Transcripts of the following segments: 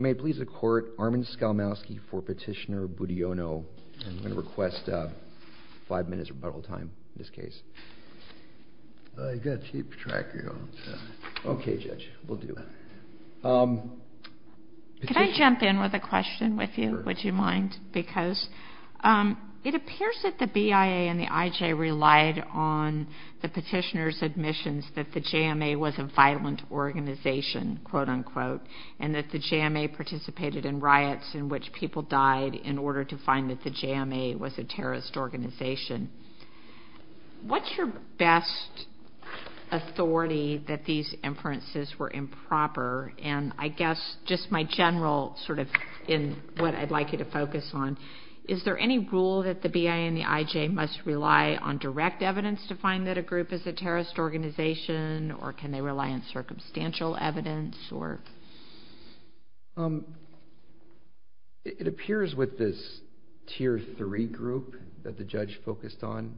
May it please the Court, Armin Skolmowsky for Petitioner Budiono. I'm going to request five minutes rebuttal time in this case. You've got to keep track of your own time. Okay, Judge. Will do. Could I jump in with a question with you? Would you mind? Because it appears that the BIA and the IJ relied on the petitioner's admissions that the JMA was a violent organization, quote unquote, and that the JMA participated in riots in which people died in order to find that the JMA was a terrorist organization. What's your best authority that these inferences were improper? And I guess just my general sort of in what I'd like you to focus on, is there any rule that the BIA and the IJ must rely on direct evidence to find that a group is a terrorist organization, or can they rely on circumstantial evidence? It appears with this Tier 3 group that the judge focused on,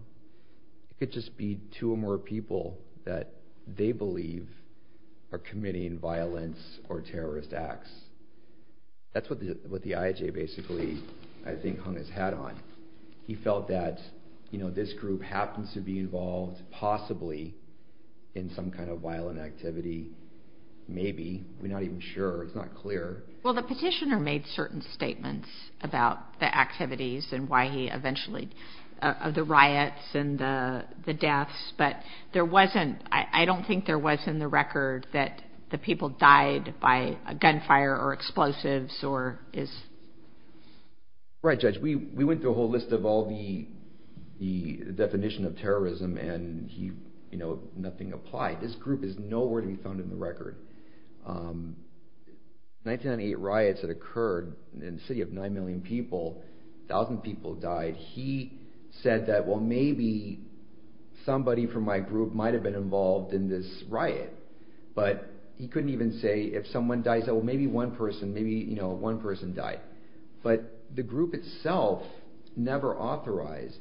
it could just be two or more people that they believe are committing violence or terrorist acts. That's what the IJ basically, I think, hung his hat on. He felt that this group happens to be involved possibly in some kind of violent activity, maybe. We're not even sure. It's not clear. Well, the petitioner made certain statements about the activities and why he eventually, the riots and the deaths, but there wasn't, I don't think there was in the record that the people died by gunfire or explosives. Right, Judge. We went through a whole list of all the definition of terrorism and nothing applied. This group is nowhere to be found in the record. In 1998 riots that occurred in a city of 9 million people, a thousand people died. He said that, well, maybe somebody from my group might have been involved in this riot, but he couldn't even say if someone died, he said, well, maybe one person, maybe one person died. But the group itself never authorized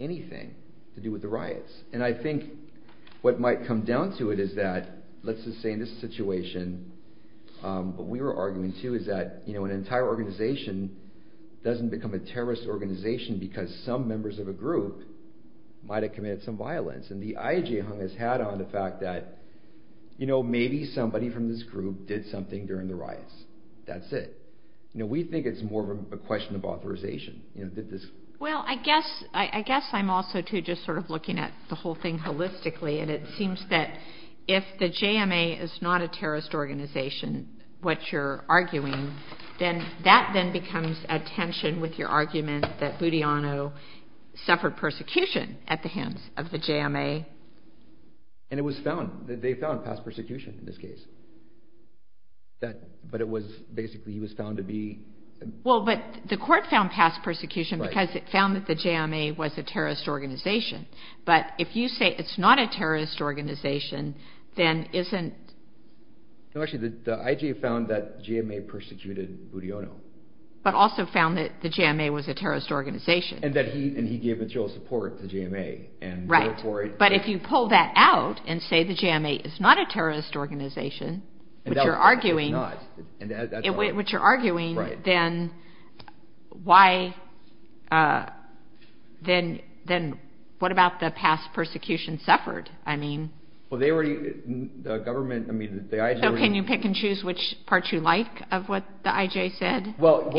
anything to do with the riots. And I think what might come down to it is that, let's just say in this situation, what we were arguing too is that an entire organization doesn't become a terrorist organization because some members of a group might have committed some violence. And the IJ hung his hat on the fact that maybe somebody from this group did something during the riots. That's it. We think it's more of a question of authorization. Well, I guess I'm also too just sort of looking at the whole thing holistically and it seems that if the JMA is not a terrorist organization, what you're arguing, then that then becomes a tension with your argument that Budiano suffered persecution at the hands of the JMA. And it was found, they found past persecution in this case. But it was basically, he was found to be... Well, but the court found past persecution because it found that the JMA was a terrorist organization. But if you say it's not a terrorist organization, then isn't... No, actually, the IJ found that the JMA persecuted Budiano. But also found that the JMA was a terrorist organization. And that he gave material support to the JMA. Right. But if you pull that out and say the JMA is not a terrorist organization, which you're arguing, then why, then what about the past persecution suffered? I mean... Well, they were, the government, I mean, the IJ... So can you pick and choose which part you like of what the IJ said? Well, the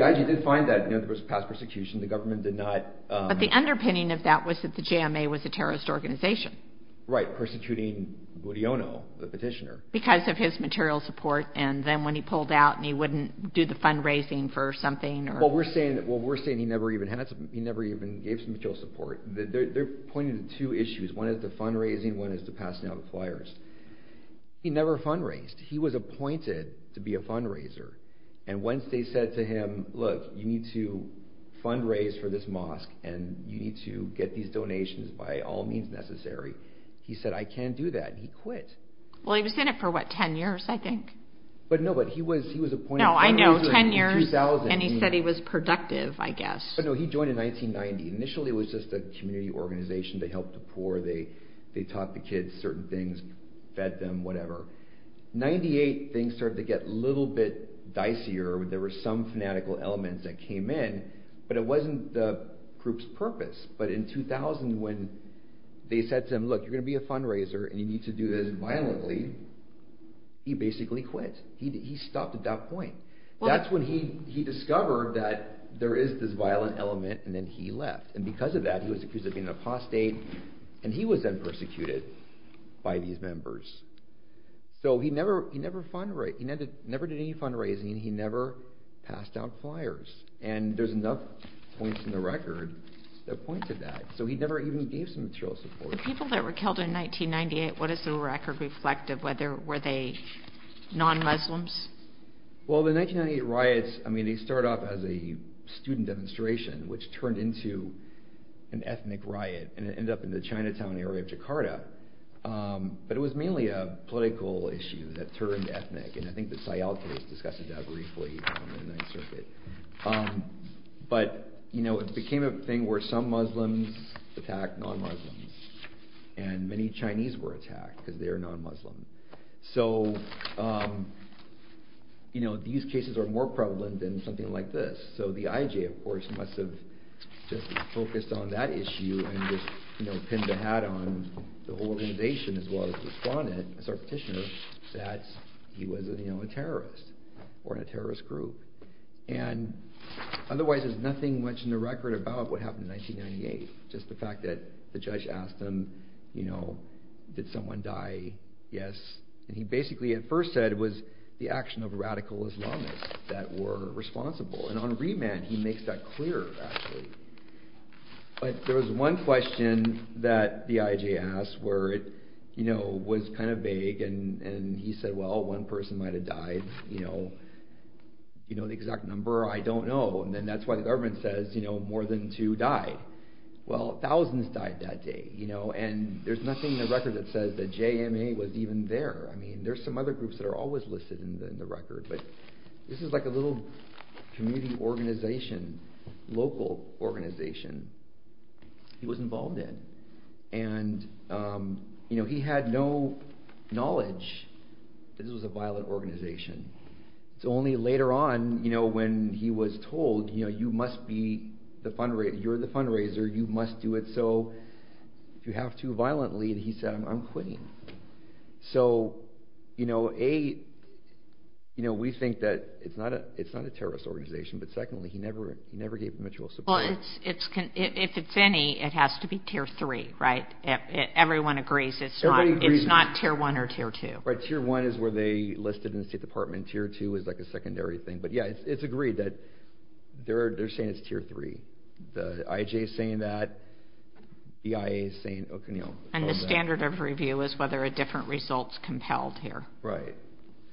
IJ did find that there was past persecution. The government did not... But the underpinning of that was that the JMA was a terrorist organization. Right, persecuting Budiano, the petitioner. Because of his material support, and then when he pulled out, and he wouldn't do the fundraising for something, or... Well, we're saying he never even gave some material support. They're pointing to two issues. One is the fundraising, one is the passing out of flyers. He never fundraised. He was appointed to be a fundraiser. And once they said to him, look, you need to fundraise for this mosque, and you need to get these donations by all means necessary, he said, I can't do that, and he quit. Well, he was in it for, what, 10 years, I think? But no, but he was appointed... No, I know, 10 years, and he said he was productive, I guess. But no, he joined in 1990. Initially, it was just a community organization to help the poor. They taught the kids certain things, fed them, whatever. In 1998, things started to get a little bit dicier. There were some fanatical elements that came in, but it wasn't the group's purpose. But in 2000, when they said to him, look, you're going to be a fundraiser, and you need to do this violently, he basically quit. He stopped at that point. That's when he discovered that there is this violent element, and then he left. And because of that, he was accused of being an apostate, and he was then persecuted by these members. So he never did any fundraising, and he never passed out flyers. And there's enough points in the record that point to that. So he never even gave some material support. The people that were killed in 1998, what does the record reflect? Were they non-Muslims? Well, the 1998 riots, I mean, they start off as a student demonstration, which turned into an ethnic riot, and it ended up in the Chinatown area of Jakarta. But it was mainly a political issue that turned ethnic, and I think the Sayal case discussed it that briefly in the Ninth Circuit. But it became a thing where some Muslims attacked non-Muslims, and many Chinese were attacked, because they are non-Muslims. So these cases are more prevalent than something like this. So the IJ, of course, must have just focused on that issue and just pinned the hat on the whole organization as well as the respondent, as our petitioner, that he was a terrorist or a terrorist group. And otherwise, there's nothing much in the record about what happened in 1998, just the fact that the judge asked him, you know, did someone die? Yes. And he basically at first said it was the action of radical Islamists that were responsible. And on remand, he makes that clear, actually. But there was one question that the IJ asked where it was kind of vague, and he said, well, one person might have died. You know the exact number? I don't know. And that's why the government says more than two died. Well, thousands died that day. And there's nothing in the record that says that JMA was even there. I mean, there's some other groups that are always listed in the record. But this is like a little community organization, local organization he was involved in. And, you know, he had no knowledge that this was a violent organization. It's only later on, you know, when he was told, you know, you must be the fundraiser. You're the fundraiser. You must do it. So if you have to, violently, he said, I'm quitting. So, you know, A, you know, we think that it's not a terrorist organization. But secondly, he never gave mutual support. Well, if it's any, it has to be Tier 3, right? Everyone agrees it's not Tier 1 or Tier 2. Right, Tier 1 is where they listed in the State Department. Tier 2 is like a secondary thing. But yeah, it's agreed that they're saying it's Tier 3. The IJ is saying that. The EIA is saying, you know. And the standard of review is whether a different result is compelled here. Right.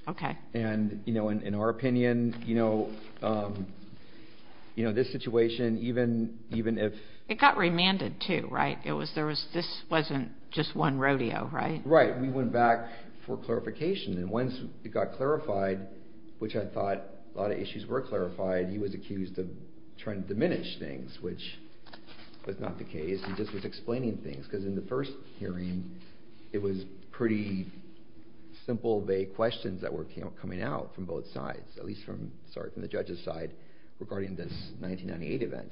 Okay. And, you know, in our opinion, you know, this situation, even if... It got remanded too, right? This wasn't just one rodeo, right? Right. We went back for clarification. And once it got clarified, which I thought a lot of issues were clarified, he was accused of trying to diminish things, which was not the case. He just was explaining things, because in the first hearing, it was pretty simple vague questions that were coming out from both sides, at least from the judge's side, regarding this 1998 event.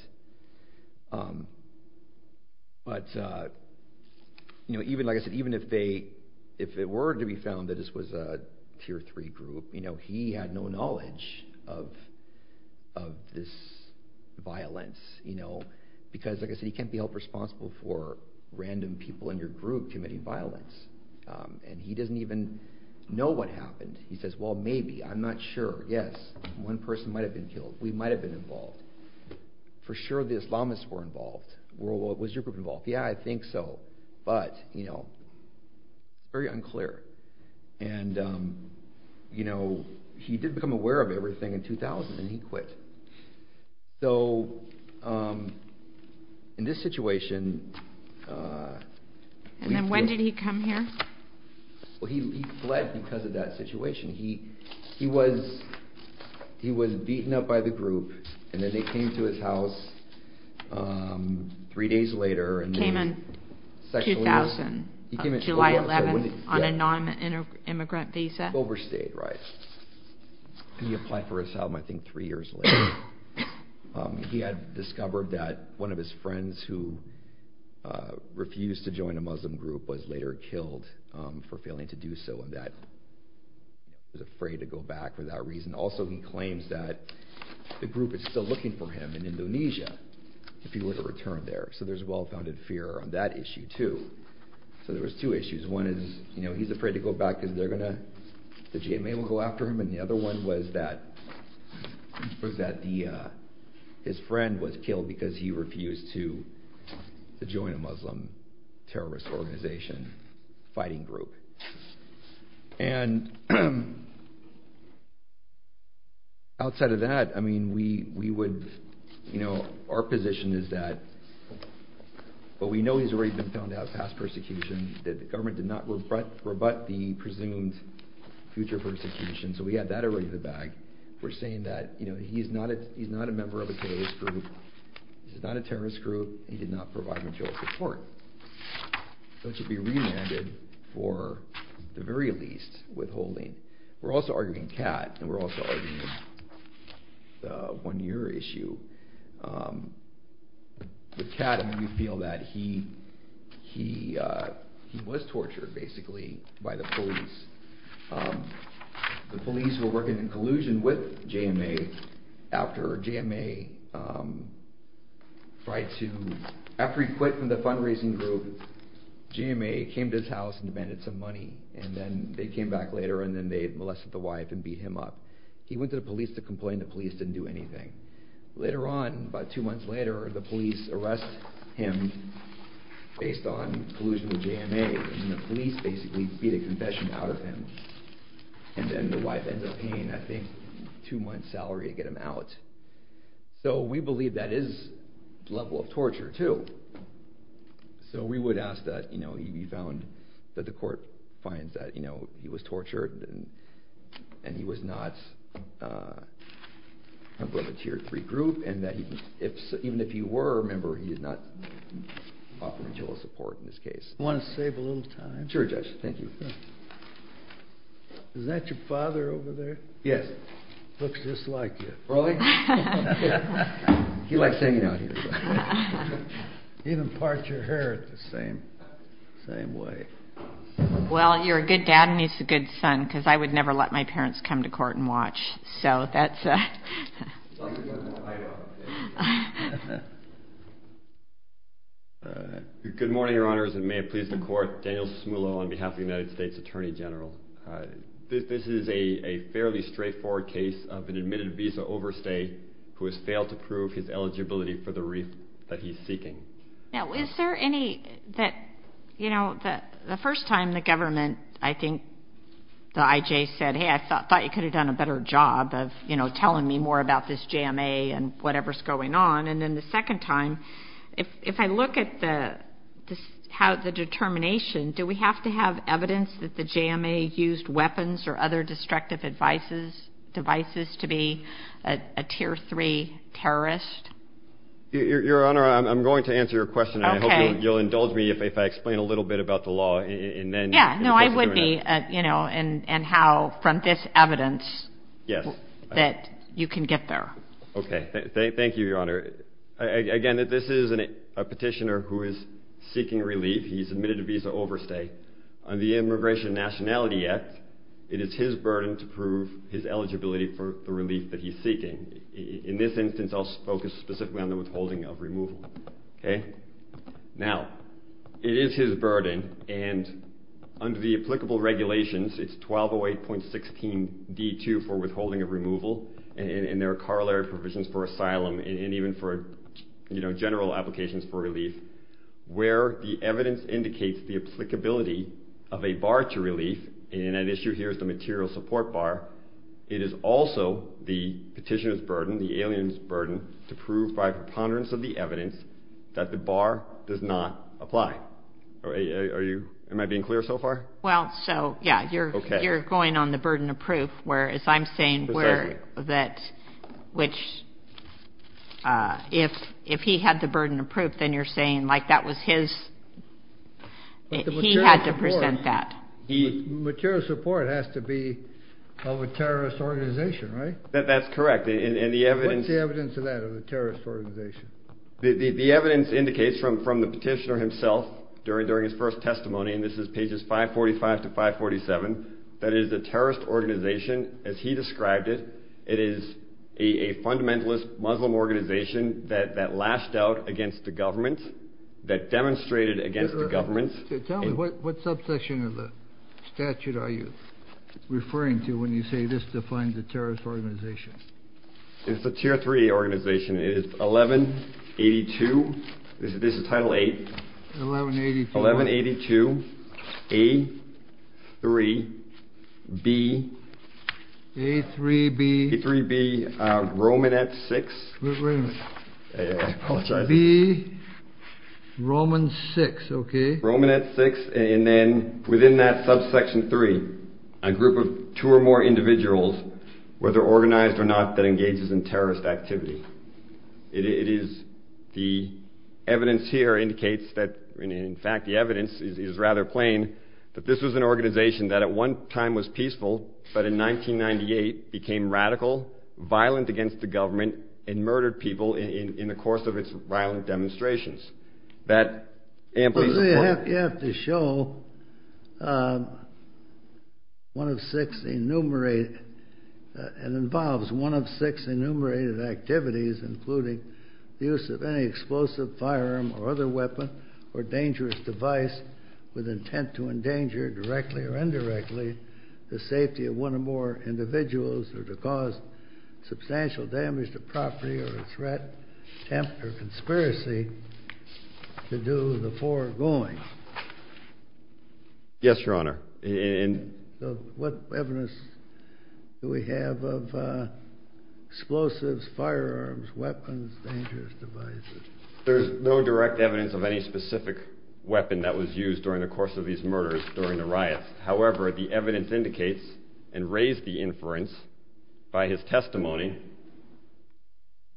But, you know, like I said, even if it were to be found that this was a Tier 3 group, you know, he had no knowledge of this violence, you know, because, like I said, he can't be held responsible for random people in your group committing violence. And he doesn't even know what happened. He says, well, maybe. I'm not sure. Yes. One person might have been killed. We might have been involved. For sure the Islamists were involved. Well, was your group involved? Yeah, I think so. But, you know, it's very unclear. And, you know, he did become aware of everything in 2000, and he quit. So, in this situation... And then when did he come here? Well, he fled because of that situation. He was beaten up by the group, and then they came to his house three days later. He came in 2000, July 11th, on a non-immigrant visa. He overstayed, right? He applied for asylum, I think, three years later. He had discovered that one of his friends who refused to join a Muslim group was later killed for failing to do so, and that he was afraid to go back for that reason. Also, he claims that the group is still looking for him in Indonesia, if he were to return there. So there's well-founded fear on that issue, too. So there was two issues. One is, you know, he's afraid to go back because they're going to... the GMA will go after him. And the other one was that his friend was killed because he refused to join a Muslim terrorist organization, fighting group. And outside of that, I mean, we would... You know, our position is that, well, we know he's already been found to have passed persecution. The government did not rebut the presumed future persecution, so we had that already in the bag. We're saying that, you know, he's not a member of a terrorist group. He's not a terrorist group. He did not provide material support. So he should be remanded for, at the very least, withholding. We're also arguing Kat, and we're also arguing the one-year issue. With Kat, I mean, we feel that he was tortured, basically, by the police. The police were working in collusion with GMA after GMA tried to... After he quit from the fundraising group, GMA came to his house and demanded some money. And then they came back later, and then they molested the wife and beat him up. He went to the police to complain. The police didn't do anything. Later on, about two months later, the police arrest him based on collusion with GMA. And the police basically beat a confession out of him. And then the wife ends up paying, I think, a two-month salary to get him out. So we believe that is a level of torture, too. So we would ask that he be found, that the court finds that he was tortured, and he was not a member of a Tier 3 group, and that even if he were a member, he did not offer material support in this case. I want to save a little time. Sure, Judge. Thank you. Is that your father over there? Yes. Looks just like you. Really? He likes hanging out here. He even parts your hair the same way. Well, you're a good dad, and he's a good son, because I would never let my parents come to court and watch. So that's a... Good morning, Your Honors, and may it please the Court. Daniel Smulo on behalf of the United States Attorney General. This is a fairly straightforward case of an admitted visa overstay who has failed to prove his eligibility for the relief that he's seeking. Now, is there any that, you know, the first time the government, I think, the IJ said, hey, I thought you could have done a better job of, you know, telling me more about this JMA and whatever's going on. And then the second time, if I look at the determination, do we have to have evidence that the JMA used weapons or other destructive devices to be a Tier 3 terrorist? Your Honor, I'm going to answer your question, and I hope you'll indulge me if I explain a little bit about the law. Yeah, no, I would be, you know, and how from this evidence that you can get there. Okay, thank you, Your Honor. Again, this is a petitioner who is seeking relief. He's admitted to visa overstay. Under the Immigration and Nationality Act, it is his burden to prove his eligibility for the relief that he's seeking. In this instance, I'll focus specifically on the withholding of removal. Okay? Now, it is his burden, and under the applicable regulations, it's 1208.16d2 for withholding of removal, and there are corollary provisions for asylum and even for, you know, general applications for relief, where the evidence indicates the applicability of a bar to relief, and an issue here is the material support bar. It is also the petitioner's burden, the alien's burden, to prove by preponderance of the evidence that the bar does not apply. Am I being clear so far? Well, so, yeah, you're going on the burden of proof, whereas I'm saying that if he had the burden of proof, then you're saying, like, that was his, he had to present that. Material support has to be of a terrorist organization, right? That's correct. What's the evidence of that, of a terrorist organization? The evidence indicates from the petitioner himself during his first testimony, and this is pages 545 to 547, that it is a terrorist organization, as he described it. It is a fundamentalist Muslim organization that lashed out against the government, that demonstrated against the government. Tell me, what subsection of the statute are you referring to when you say this defines a terrorist organization? It's a Tier 3 organization. It is 1182, this is Title 8. 1182. 1182, A, 3, B. A, 3, B. A, 3, B, Romanette 6. Wait a minute. I apologize. B, Roman 6, okay. Romanette 6, and then within that subsection 3, a group of two or more individuals, whether organized or not, that engages in terrorist activity. The evidence here indicates that, in fact, the evidence is rather plain, that this was an organization that at one time was peaceful, but in 1998 became radical, violent against the government, and murdered people in the course of its violent demonstrations. You have to show one of six enumerated, and involves one of six enumerated activities, including the use of any explosive, firearm, or other weapon, or dangerous device with intent to endanger directly or indirectly the safety of one or more individuals or to cause substantial damage to property or a threat, attempt, or conspiracy to do the foregoing. Yes, Your Honor. What evidence do we have of explosives, firearms, weapons, dangerous devices? There is no direct evidence of any specific weapon that was used However, the evidence indicates and raised the inference by his testimony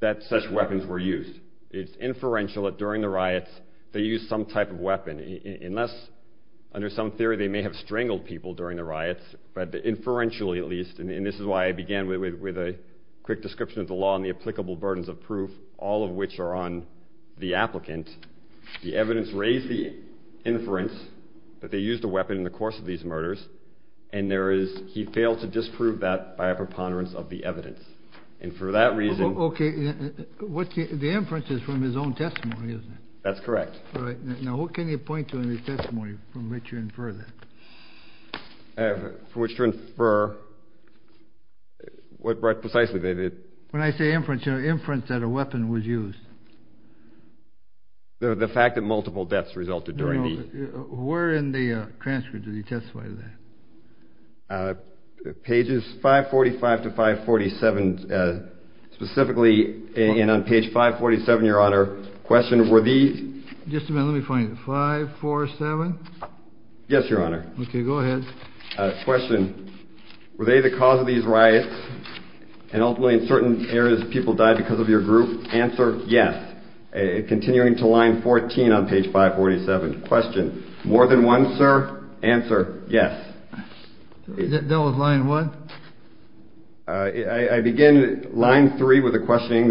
that such weapons were used. It's inferential that during the riots they used some type of weapon, unless under some theory they may have strangled people during the riots, but inferentially at least, and this is why I began with a quick description of the law and the applicable burdens of proof, all of which are on the applicant. The evidence raised the inference that they used a weapon in the course of these murders, and he failed to disprove that by a preponderance of the evidence, and for that reason... Okay, the inference is from his own testimony, isn't it? That's correct. All right, now what can you point to in the testimony from which you infer that? From which to infer what precisely they did. When I say inference, you know, inference that a weapon was used. The fact that multiple deaths resulted during the... Where in the transcript did he testify to that? Pages 545 to 547, specifically, and on page 547, Your Honor, question, were these... Just a minute, let me find it, 547? Yes, Your Honor. Okay, go ahead. Question, were they the cause of these riots, and ultimately in certain areas people died because of your group? Answer, yes. Continuing to line 14 on page 547. Question, more than one, sir? Answer, yes. That was line what? I begin line 3 with a questioning.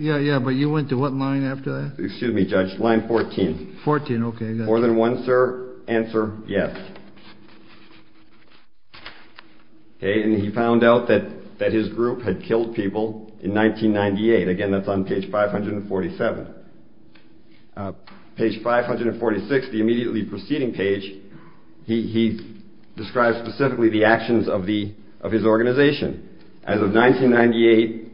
Yeah, but you went to what line after that? Excuse me, Judge, line 14. 14, okay. More than one, sir? Answer, yes. Okay, and he found out that his group had killed people in 1998. Again, that's on page 547. Page 546, the immediately preceding page, he describes specifically the actions of his organization. As of 1998,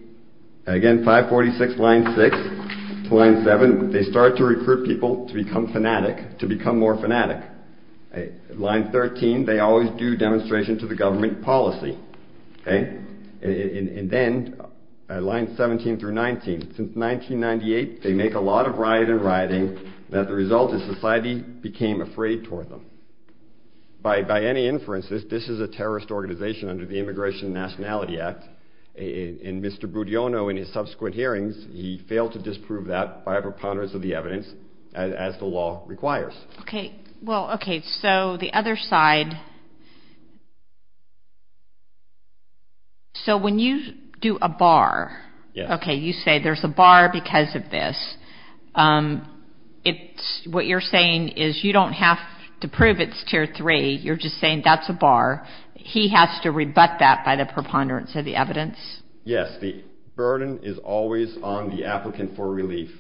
again, 546 line 6 to line 7, they start to recruit people to become fanatic, to become more fanatic. Line 13, they always do demonstration to the government policy. And then line 17 through 19, since 1998, they make a lot of rioting and rioting, and the result is society became afraid toward them. By any inference, this is a terrorist organization under the Immigration and Nationality Act, and Mr. Budiono in his subsequent hearings, he failed to disprove that by preponderance of the evidence, as the law requires. Okay, well, okay, so the other side. So when you do a bar, okay, you say there's a bar because of this. What you're saying is you don't have to prove it's tier 3, you're just saying that's a bar. He has to rebut that by the preponderance of the evidence? Yes, the burden is always on the applicant for relief.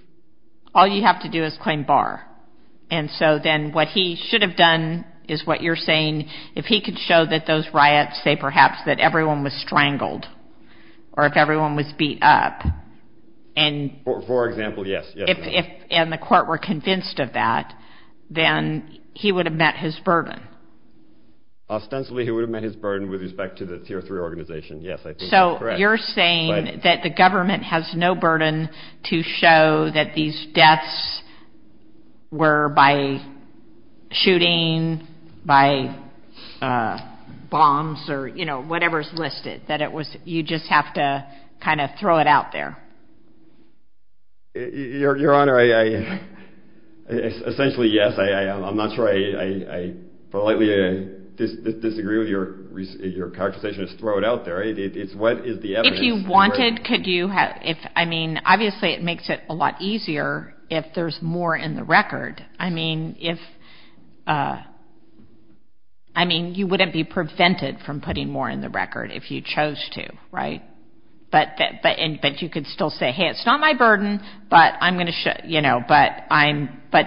All you have to do is claim bar. And so then what he should have done is what you're saying, if he could show that those riots say perhaps that everyone was strangled or if everyone was beat up. For example, yes. And the court were convinced of that, then he would have met his burden. Ostensibly, he would have met his burden with respect to the tier 3 organization. Yes, I think that's correct. So you're saying that the government has no burden to show that these deaths were by shooting, by bombs, or, you know, whatever's listed, that you just have to kind of throw it out there. Your Honor, essentially, yes. I'm not sure I politely disagree with your conversation. It's throw it out there. What is the evidence? If you wanted, could you have, I mean, obviously it makes it a lot easier if there's more in the record. I mean, you wouldn't be prevented from putting more in the record if you chose to, right? But you could still say, hey, it's not my burden, but I'm going to show, you know, but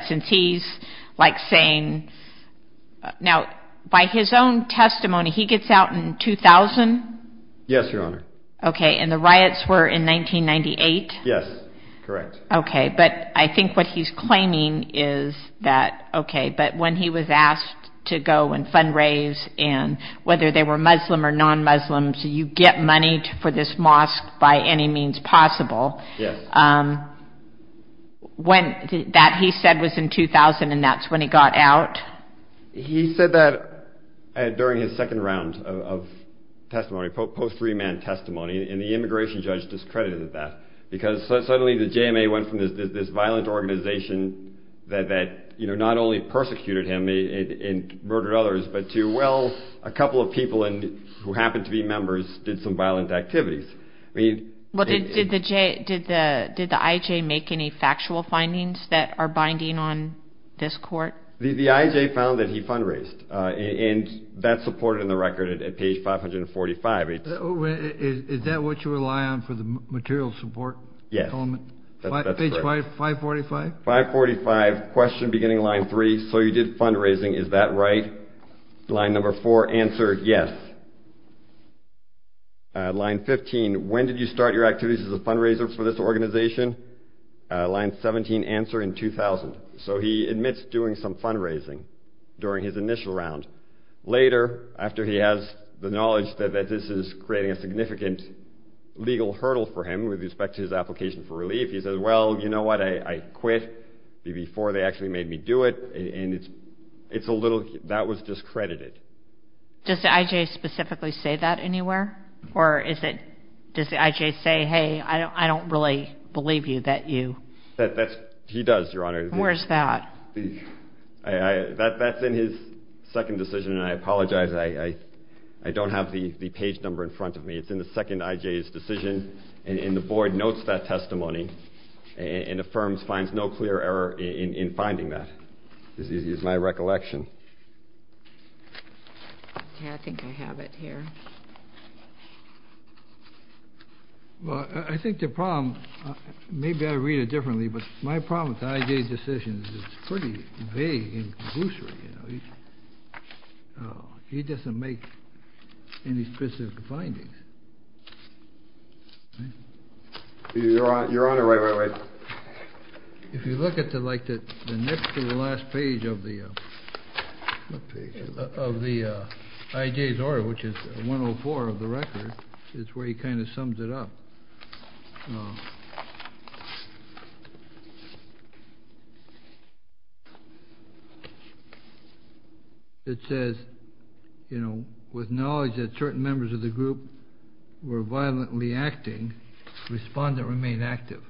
since he's like saying, now, by his own testimony, he gets out in 2000? Yes, Your Honor. Okay, and the riots were in 1998? Yes, correct. Okay, but I think what he's claiming is that, okay, but when he was asked to go and fundraise and whether they were Muslim or non-Muslims, you get money for this mosque by any means possible. Yes. That he said was in 2000, and that's when he got out? He said that during his second round of testimony, post remand testimony, and the immigration judge discredited that because suddenly the JMA went from this violent organization that not only persecuted him and murdered others, but to, well, a couple of people who happened to be members did some violent activities. Did the IJ make any factual findings that are binding on this court? The IJ found that he fundraised, and that's supported in the record at page 545. Is that what you rely on for the material support? Yes. Page 545? 545, question beginning line three, so you did fundraising, is that right? Line number four, answer, yes. Line 15, when did you start your activities as a fundraiser for this organization? Line 17, answer, in 2000. So he admits doing some fundraising during his initial round. Later, after he has the knowledge that this is creating a significant legal hurdle for him with respect to his application for relief, he says, well, you know what? I quit before they actually made me do it, and it's a little, that was discredited. Does the IJ specifically say that anywhere? Or is it, does the IJ say, hey, I don't really believe you, that you. He does, Your Honor. Where's that? That's in his second decision, and I apologize. I don't have the page number in front of me. It's in the second IJ's decision, and the board notes that testimony and affirms, finds no clear error in finding that. It's my recollection. Okay, I think I have it here. Well, I think the problem, maybe I read it differently, but my problem with the IJ's decision is it's pretty vague and gruesome. He doesn't make any specific findings. Your Honor, wait, wait, wait. If you look at the next to the last page of the IJ's order, which is 104 of the record, it's where he kind of sums it up. It says, you know, with knowledge that certain members of the group were violently acting, respond and remain active.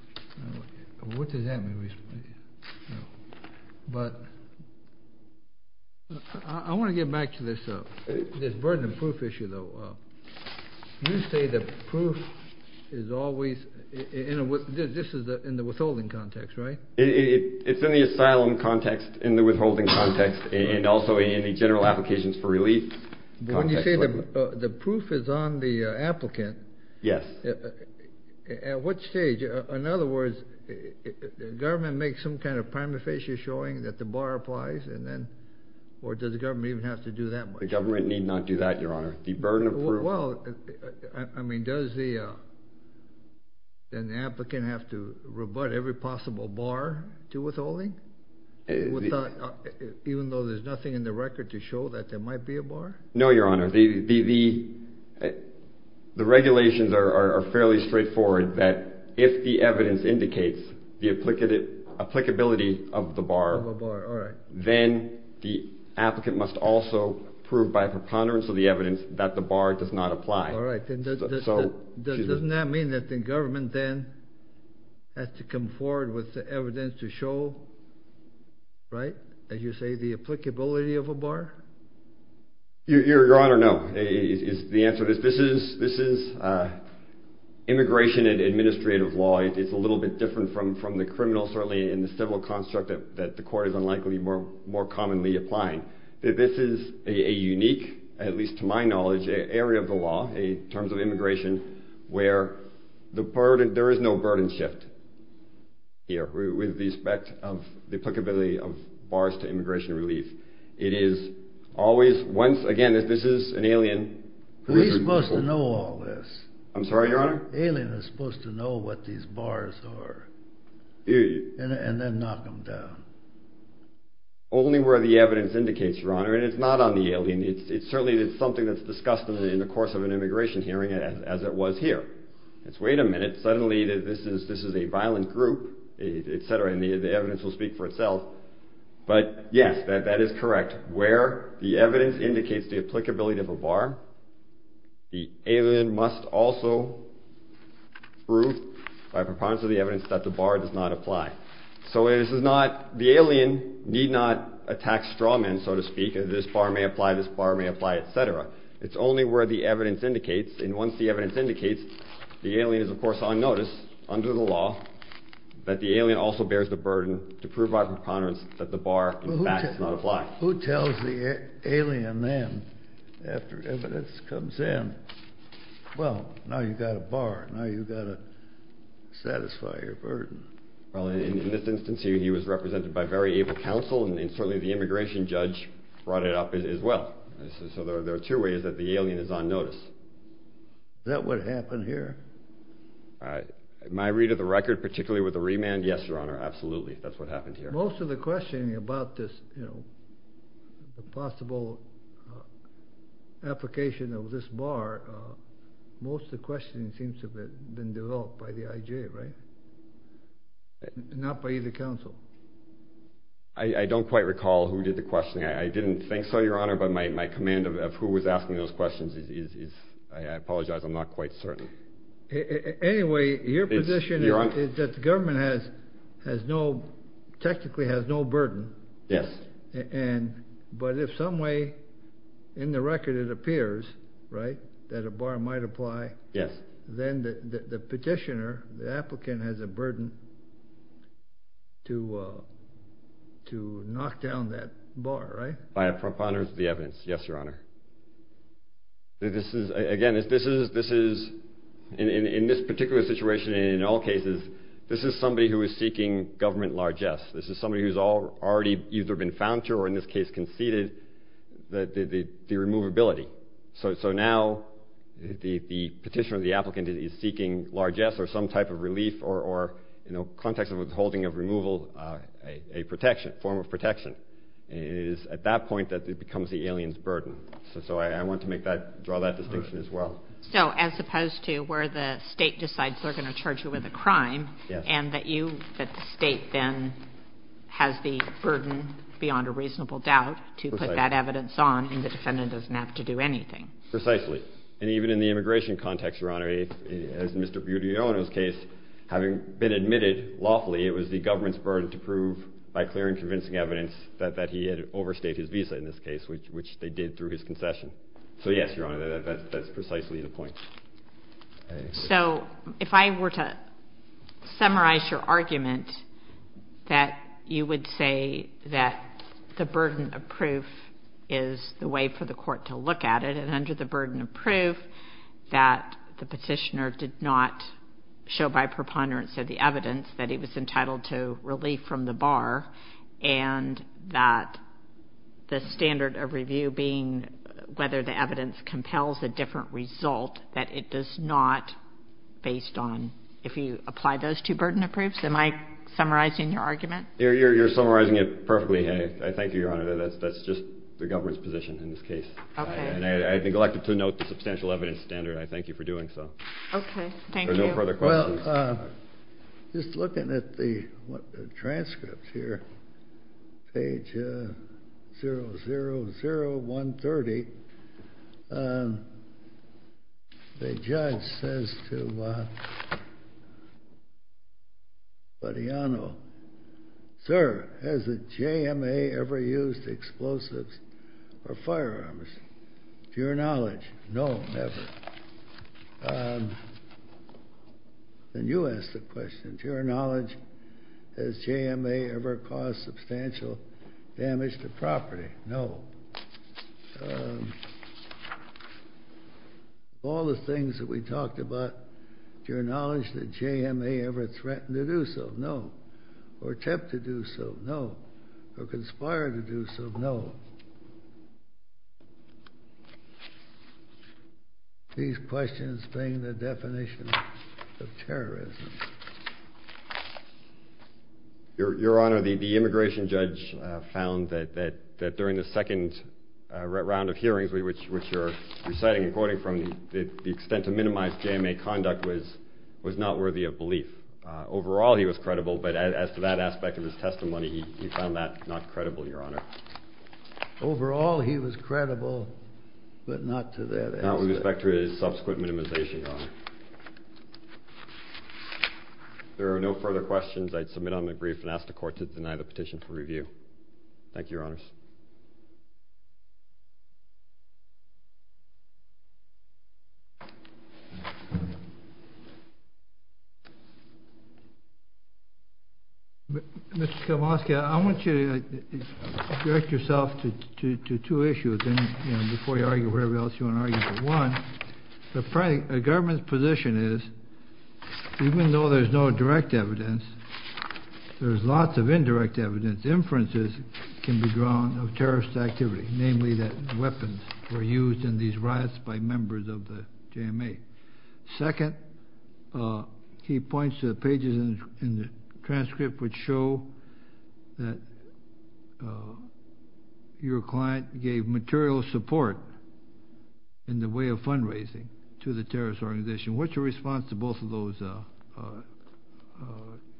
What does that mean? But I want to get back to this burden of proof issue, though. You say the proof is always in the withholding context, right? It's in the asylum context, in the withholding context, and also in the general applications for relief context. When you say the proof is on the applicant, at what stage? In other words, the government makes some kind of prima facie showing that the bar applies, or does the government even have to do that much? The government need not do that, Your Honor. The burden of proof. Well, I mean, does the applicant have to rebut every possible bar to withholding, even though there's nothing in the record to show that there might be a bar? No, Your Honor. The regulations are fairly straightforward that if the evidence indicates the applicability of the bar, then the applicant must also prove by preponderance of the evidence that the bar does not apply. Doesn't that mean that the government then has to come forward with the evidence to show, right, as you say, the applicability of a bar? Your Honor, no. The answer is this is immigration and administrative law. It's a little bit different from the criminal, certainly, and the civil construct that the court is unlikely to be more commonly applying. This is a unique, at least to my knowledge, area of the law, in terms of immigration, where there is no burden shift here with respect to the applicability of bars to immigration relief. It is always, once again, this is an alien. Who's supposed to know all this? I'm sorry, Your Honor? The alien is supposed to know what these bars are and then knock them down. Only where the evidence indicates, Your Honor, and it's not on the alien. It's certainly something that's discussed in the course of an immigration hearing as it was here. It's wait a minute. Suddenly this is a violent group, et cetera, and the evidence will speak for itself. But, yes, that is correct. Where the evidence indicates the applicability of a bar, the alien must also prove by preponderance of the evidence that the bar does not apply. So the alien need not attack straw men, so to speak. This bar may apply, this bar may apply, et cetera. It's only where the evidence indicates. And once the evidence indicates, the alien is, of course, on notice under the law that the alien also bears the burden to prove by preponderance that the bar, in fact, does not apply. Who tells the alien then, after evidence comes in, well, now you've got a bar. Now you've got to satisfy your burden. Well, in this instance, he was represented by very able counsel, and certainly the immigration judge brought it up as well. So there are two ways that the alien is on notice. Is that what happened here? My read of the record, particularly with the remand, yes, Your Honor, absolutely. That's what happened here. Most of the questioning about this, you know, the possible application of this bar, most of the questioning seems to have been developed by the IJ, right? Not by either counsel. I don't quite recall who did the questioning. I didn't think so, Your Honor, but my command of who was asking those questions is, I apologize, I'm not quite certain. Anyway, your position is that the government has no, technically has no burden. Yes. But if some way in the record it appears, right, that a bar might apply, then the petitioner, the applicant, has a burden to knock down that bar, right? By a preponderance of the evidence, yes, Your Honor. Again, this is, in this particular situation and in all cases, this is somebody who is seeking government largesse. This is somebody who has already either been found to or in this case conceded the removability. So now the petitioner or the applicant is seeking largesse or some type of relief or in the context of withholding of removal, a protection, form of protection. It is at that point that it becomes the alien's burden. So I want to make that, draw that distinction as well. So as opposed to where the state decides they're going to charge you with a crime and that you, that the state then has the burden beyond a reasonable doubt to put that evidence on and the defendant doesn't have to do anything. Precisely. And even in the immigration context, Your Honor, as in Mr. Budiono's case, having been admitted lawfully, it was the government's burden to prove by clearing convincing evidence that he had overstayed his visa in this case, which they did through his concession. So yes, Your Honor, that's precisely the point. So if I were to summarize your argument that you would say that the burden of proof is the way for the court to look at it and under the burden of proof that the petitioner did not show by preponderance of the evidence that he was entitled to relief from the bar and that the standard of review being whether the evidence compels a different result that it does not based on if you apply those two burden of proofs, am I summarizing your argument? You're summarizing it perfectly. I thank you, Your Honor. That's just the government's position in this case. Okay. And I'd like to note the substantial evidence standard. I thank you for doing so. Okay. Thank you. There are no further questions. Well, just looking at the transcript here, page 000130, the judge says to Mariano, Sir, has the JMA ever used explosives or firearms? To your knowledge, no, never. Then you ask the question, to your knowledge, has JMA ever caused substantial damage to property? No. All the things that we talked about, to your knowledge, did JMA ever threaten to do so? No. Or attempt to do so? No. Or conspire to do so? No. These questions bring the definition of terrorism. Your Honor, the immigration judge found that during the second round of hearings, which you're reciting and quoting from, the extent to minimize JMA conduct was not worthy of belief. Overall, he was credible, but as to that aspect of his testimony, he found that not credible, Your Honor. Overall, he was credible, but not to that aspect. Not with respect to his subsequent minimization, Your Honor. If there are no further questions, I'd submit on the brief and ask the Court to deny the petition for review. Thank you, Your Honors. Mr. Kowalski, I want you to direct yourself to two issues, and before you argue whatever else you want to argue, but one, the government's position is, even though there's no direct evidence, there's lots of indirect evidence. First, inferences can be drawn of terrorist activity, namely that weapons were used in these riots by members of the JMA. Second, he points to the pages in the transcript which show that your client gave material support in the way of fundraising to the terrorist organization. What's your response to both of those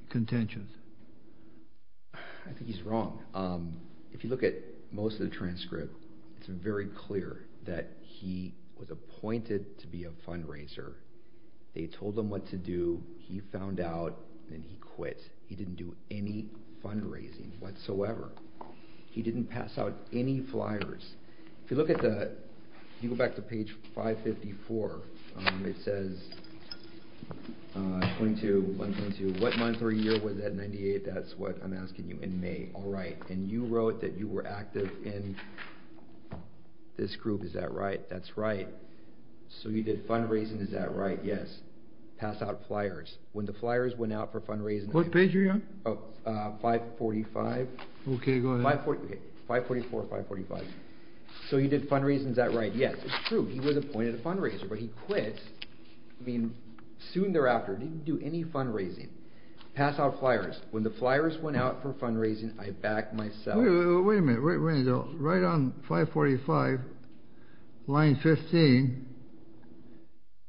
contentions? I think he's wrong. If you look at most of the transcript, it's very clear that he was appointed to be a fundraiser. They told him what to do. He found out, and he quit. He didn't do any fundraising whatsoever. He didn't pass out any flyers. If you go back to page 554, it says, what month or year was that, 98? That's what I'm asking you. In May. All right. And you wrote that you were active in this group. Is that right? That's right. So you did fundraising. Is that right? Yes. Pass out flyers. When the flyers went out for fundraising, What page are you on? 545. Okay, go ahead. 544 or 545. So he did fundraising. Is that right? Yes. It's true. He was appointed a fundraiser, but he quit. I mean, soon thereafter, he didn't do any fundraising. Pass out flyers. When the flyers went out for fundraising, I backed myself. Wait a minute. Right on 545, line 15,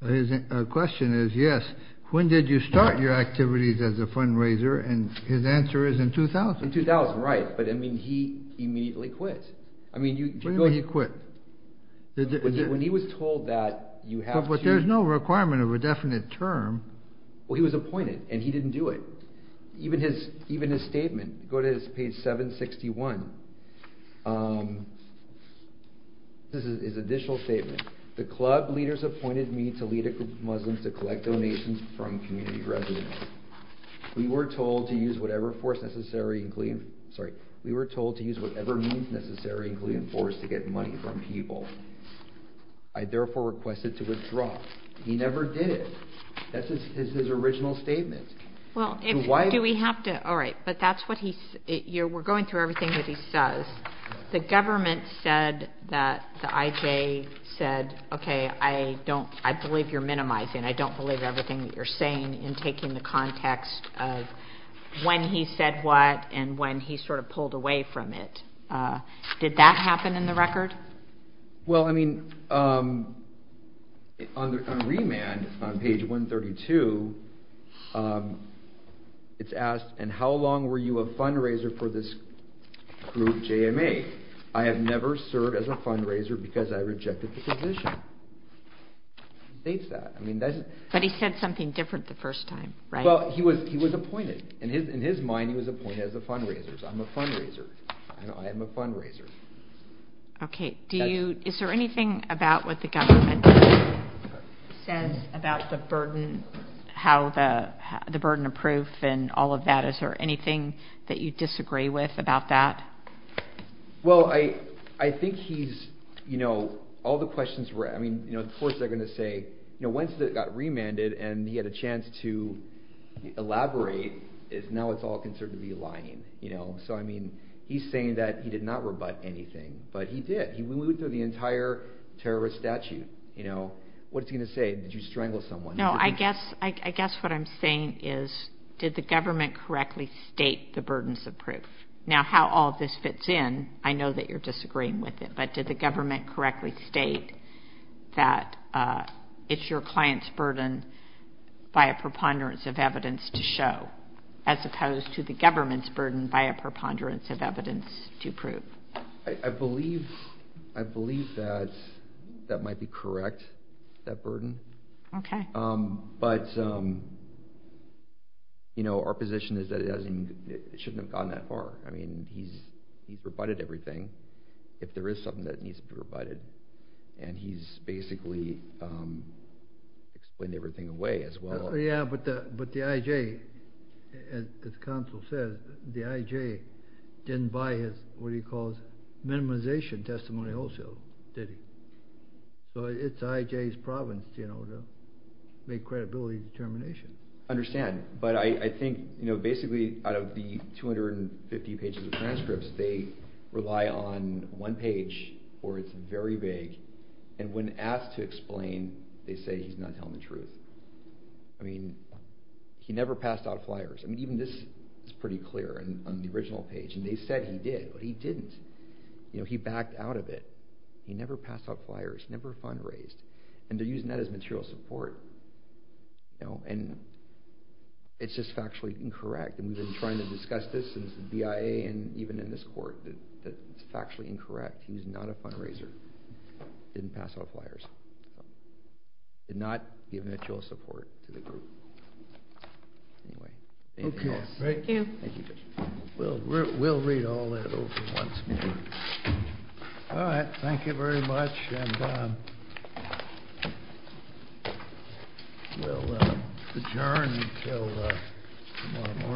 the question is, yes, when did you start your activities as a fundraiser? And his answer is in 2000. In 2000, right. But, I mean, he immediately quit. What do you mean he quit? When he was told that you have to But there's no requirement of a definite term. Well, he was appointed, and he didn't do it. Even his statement, go to page 761. This is his additional statement. The club leaders appointed me to lead a group of Muslims to collect donations from community residents. We were told to use whatever force necessary, sorry, we were told to use whatever means necessary, including force, to get money from people. I therefore requested to withdraw. He never did it. That's his original statement. Do we have to, all right, but that's what he, we're going through everything that he says. The government said that, the IJ said, okay, I believe you're minimizing. I don't believe everything that you're saying in taking the context of when he said what and when he sort of pulled away from it. Did that happen in the record? Well, I mean, on remand, on page 132, it's asked, and how long were you a fundraiser for this group, JMA? I have never served as a fundraiser because I rejected the position. It states that. But he said something different the first time, right? Well, he was appointed. In his mind, he was appointed as a fundraiser. So I'm a fundraiser. I am a fundraiser. Okay, do you, is there anything about what the government says about the burden, how the burden of proof and all of that, is there anything that you disagree with about that? Well, I think he's, you know, all the questions were, I mean, of course they're going to say, you know, once it got remanded and he had a chance to elaborate, now it's all considered to be lying. So, I mean, he's saying that he did not rebut anything, but he did. We went through the entire terrorist statute. What's he going to say? Did you strangle someone? No, I guess what I'm saying is, did the government correctly state the burdens of proof? Now, how all of this fits in, I know that you're disagreeing with it, but did the government correctly state that it's your client's burden by a preponderance of evidence to show, as opposed to the government's burden by a preponderance of evidence to prove? I believe that that might be correct, that burden. Okay. But, you know, our position is that it hasn't, it shouldn't have gone that far. I mean, he's rebutted everything. If there is something that needs to be rebutted, and he's basically explained everything away as well. Yeah, but the IJ, as counsel said, the IJ didn't buy his, what he calls, minimization testimony wholesale, did he? So it's IJ's province, you know, to make credibility determination. I understand, but I think, you know, basically out of the 250 pages of transcripts, they rely on one page where it's very vague, and when asked to explain, they say he's not telling the truth. I mean, he never passed out flyers. I mean, even this is pretty clear on the original page, and they said he did, but he didn't. You know, he backed out of it. He never passed out flyers, never fundraised, and they're using that as material support. You know, and it's just factually incorrect, and we've been trying to discuss this since the BIA and even in this court that it's factually incorrect. He's not a fundraiser, didn't pass out flyers, did not give material support to the group. Anyway, thank you all. Thank you. Thank you, Judge. We'll read all that over once more. All right, thank you very much, and we'll adjourn until tomorrow morning.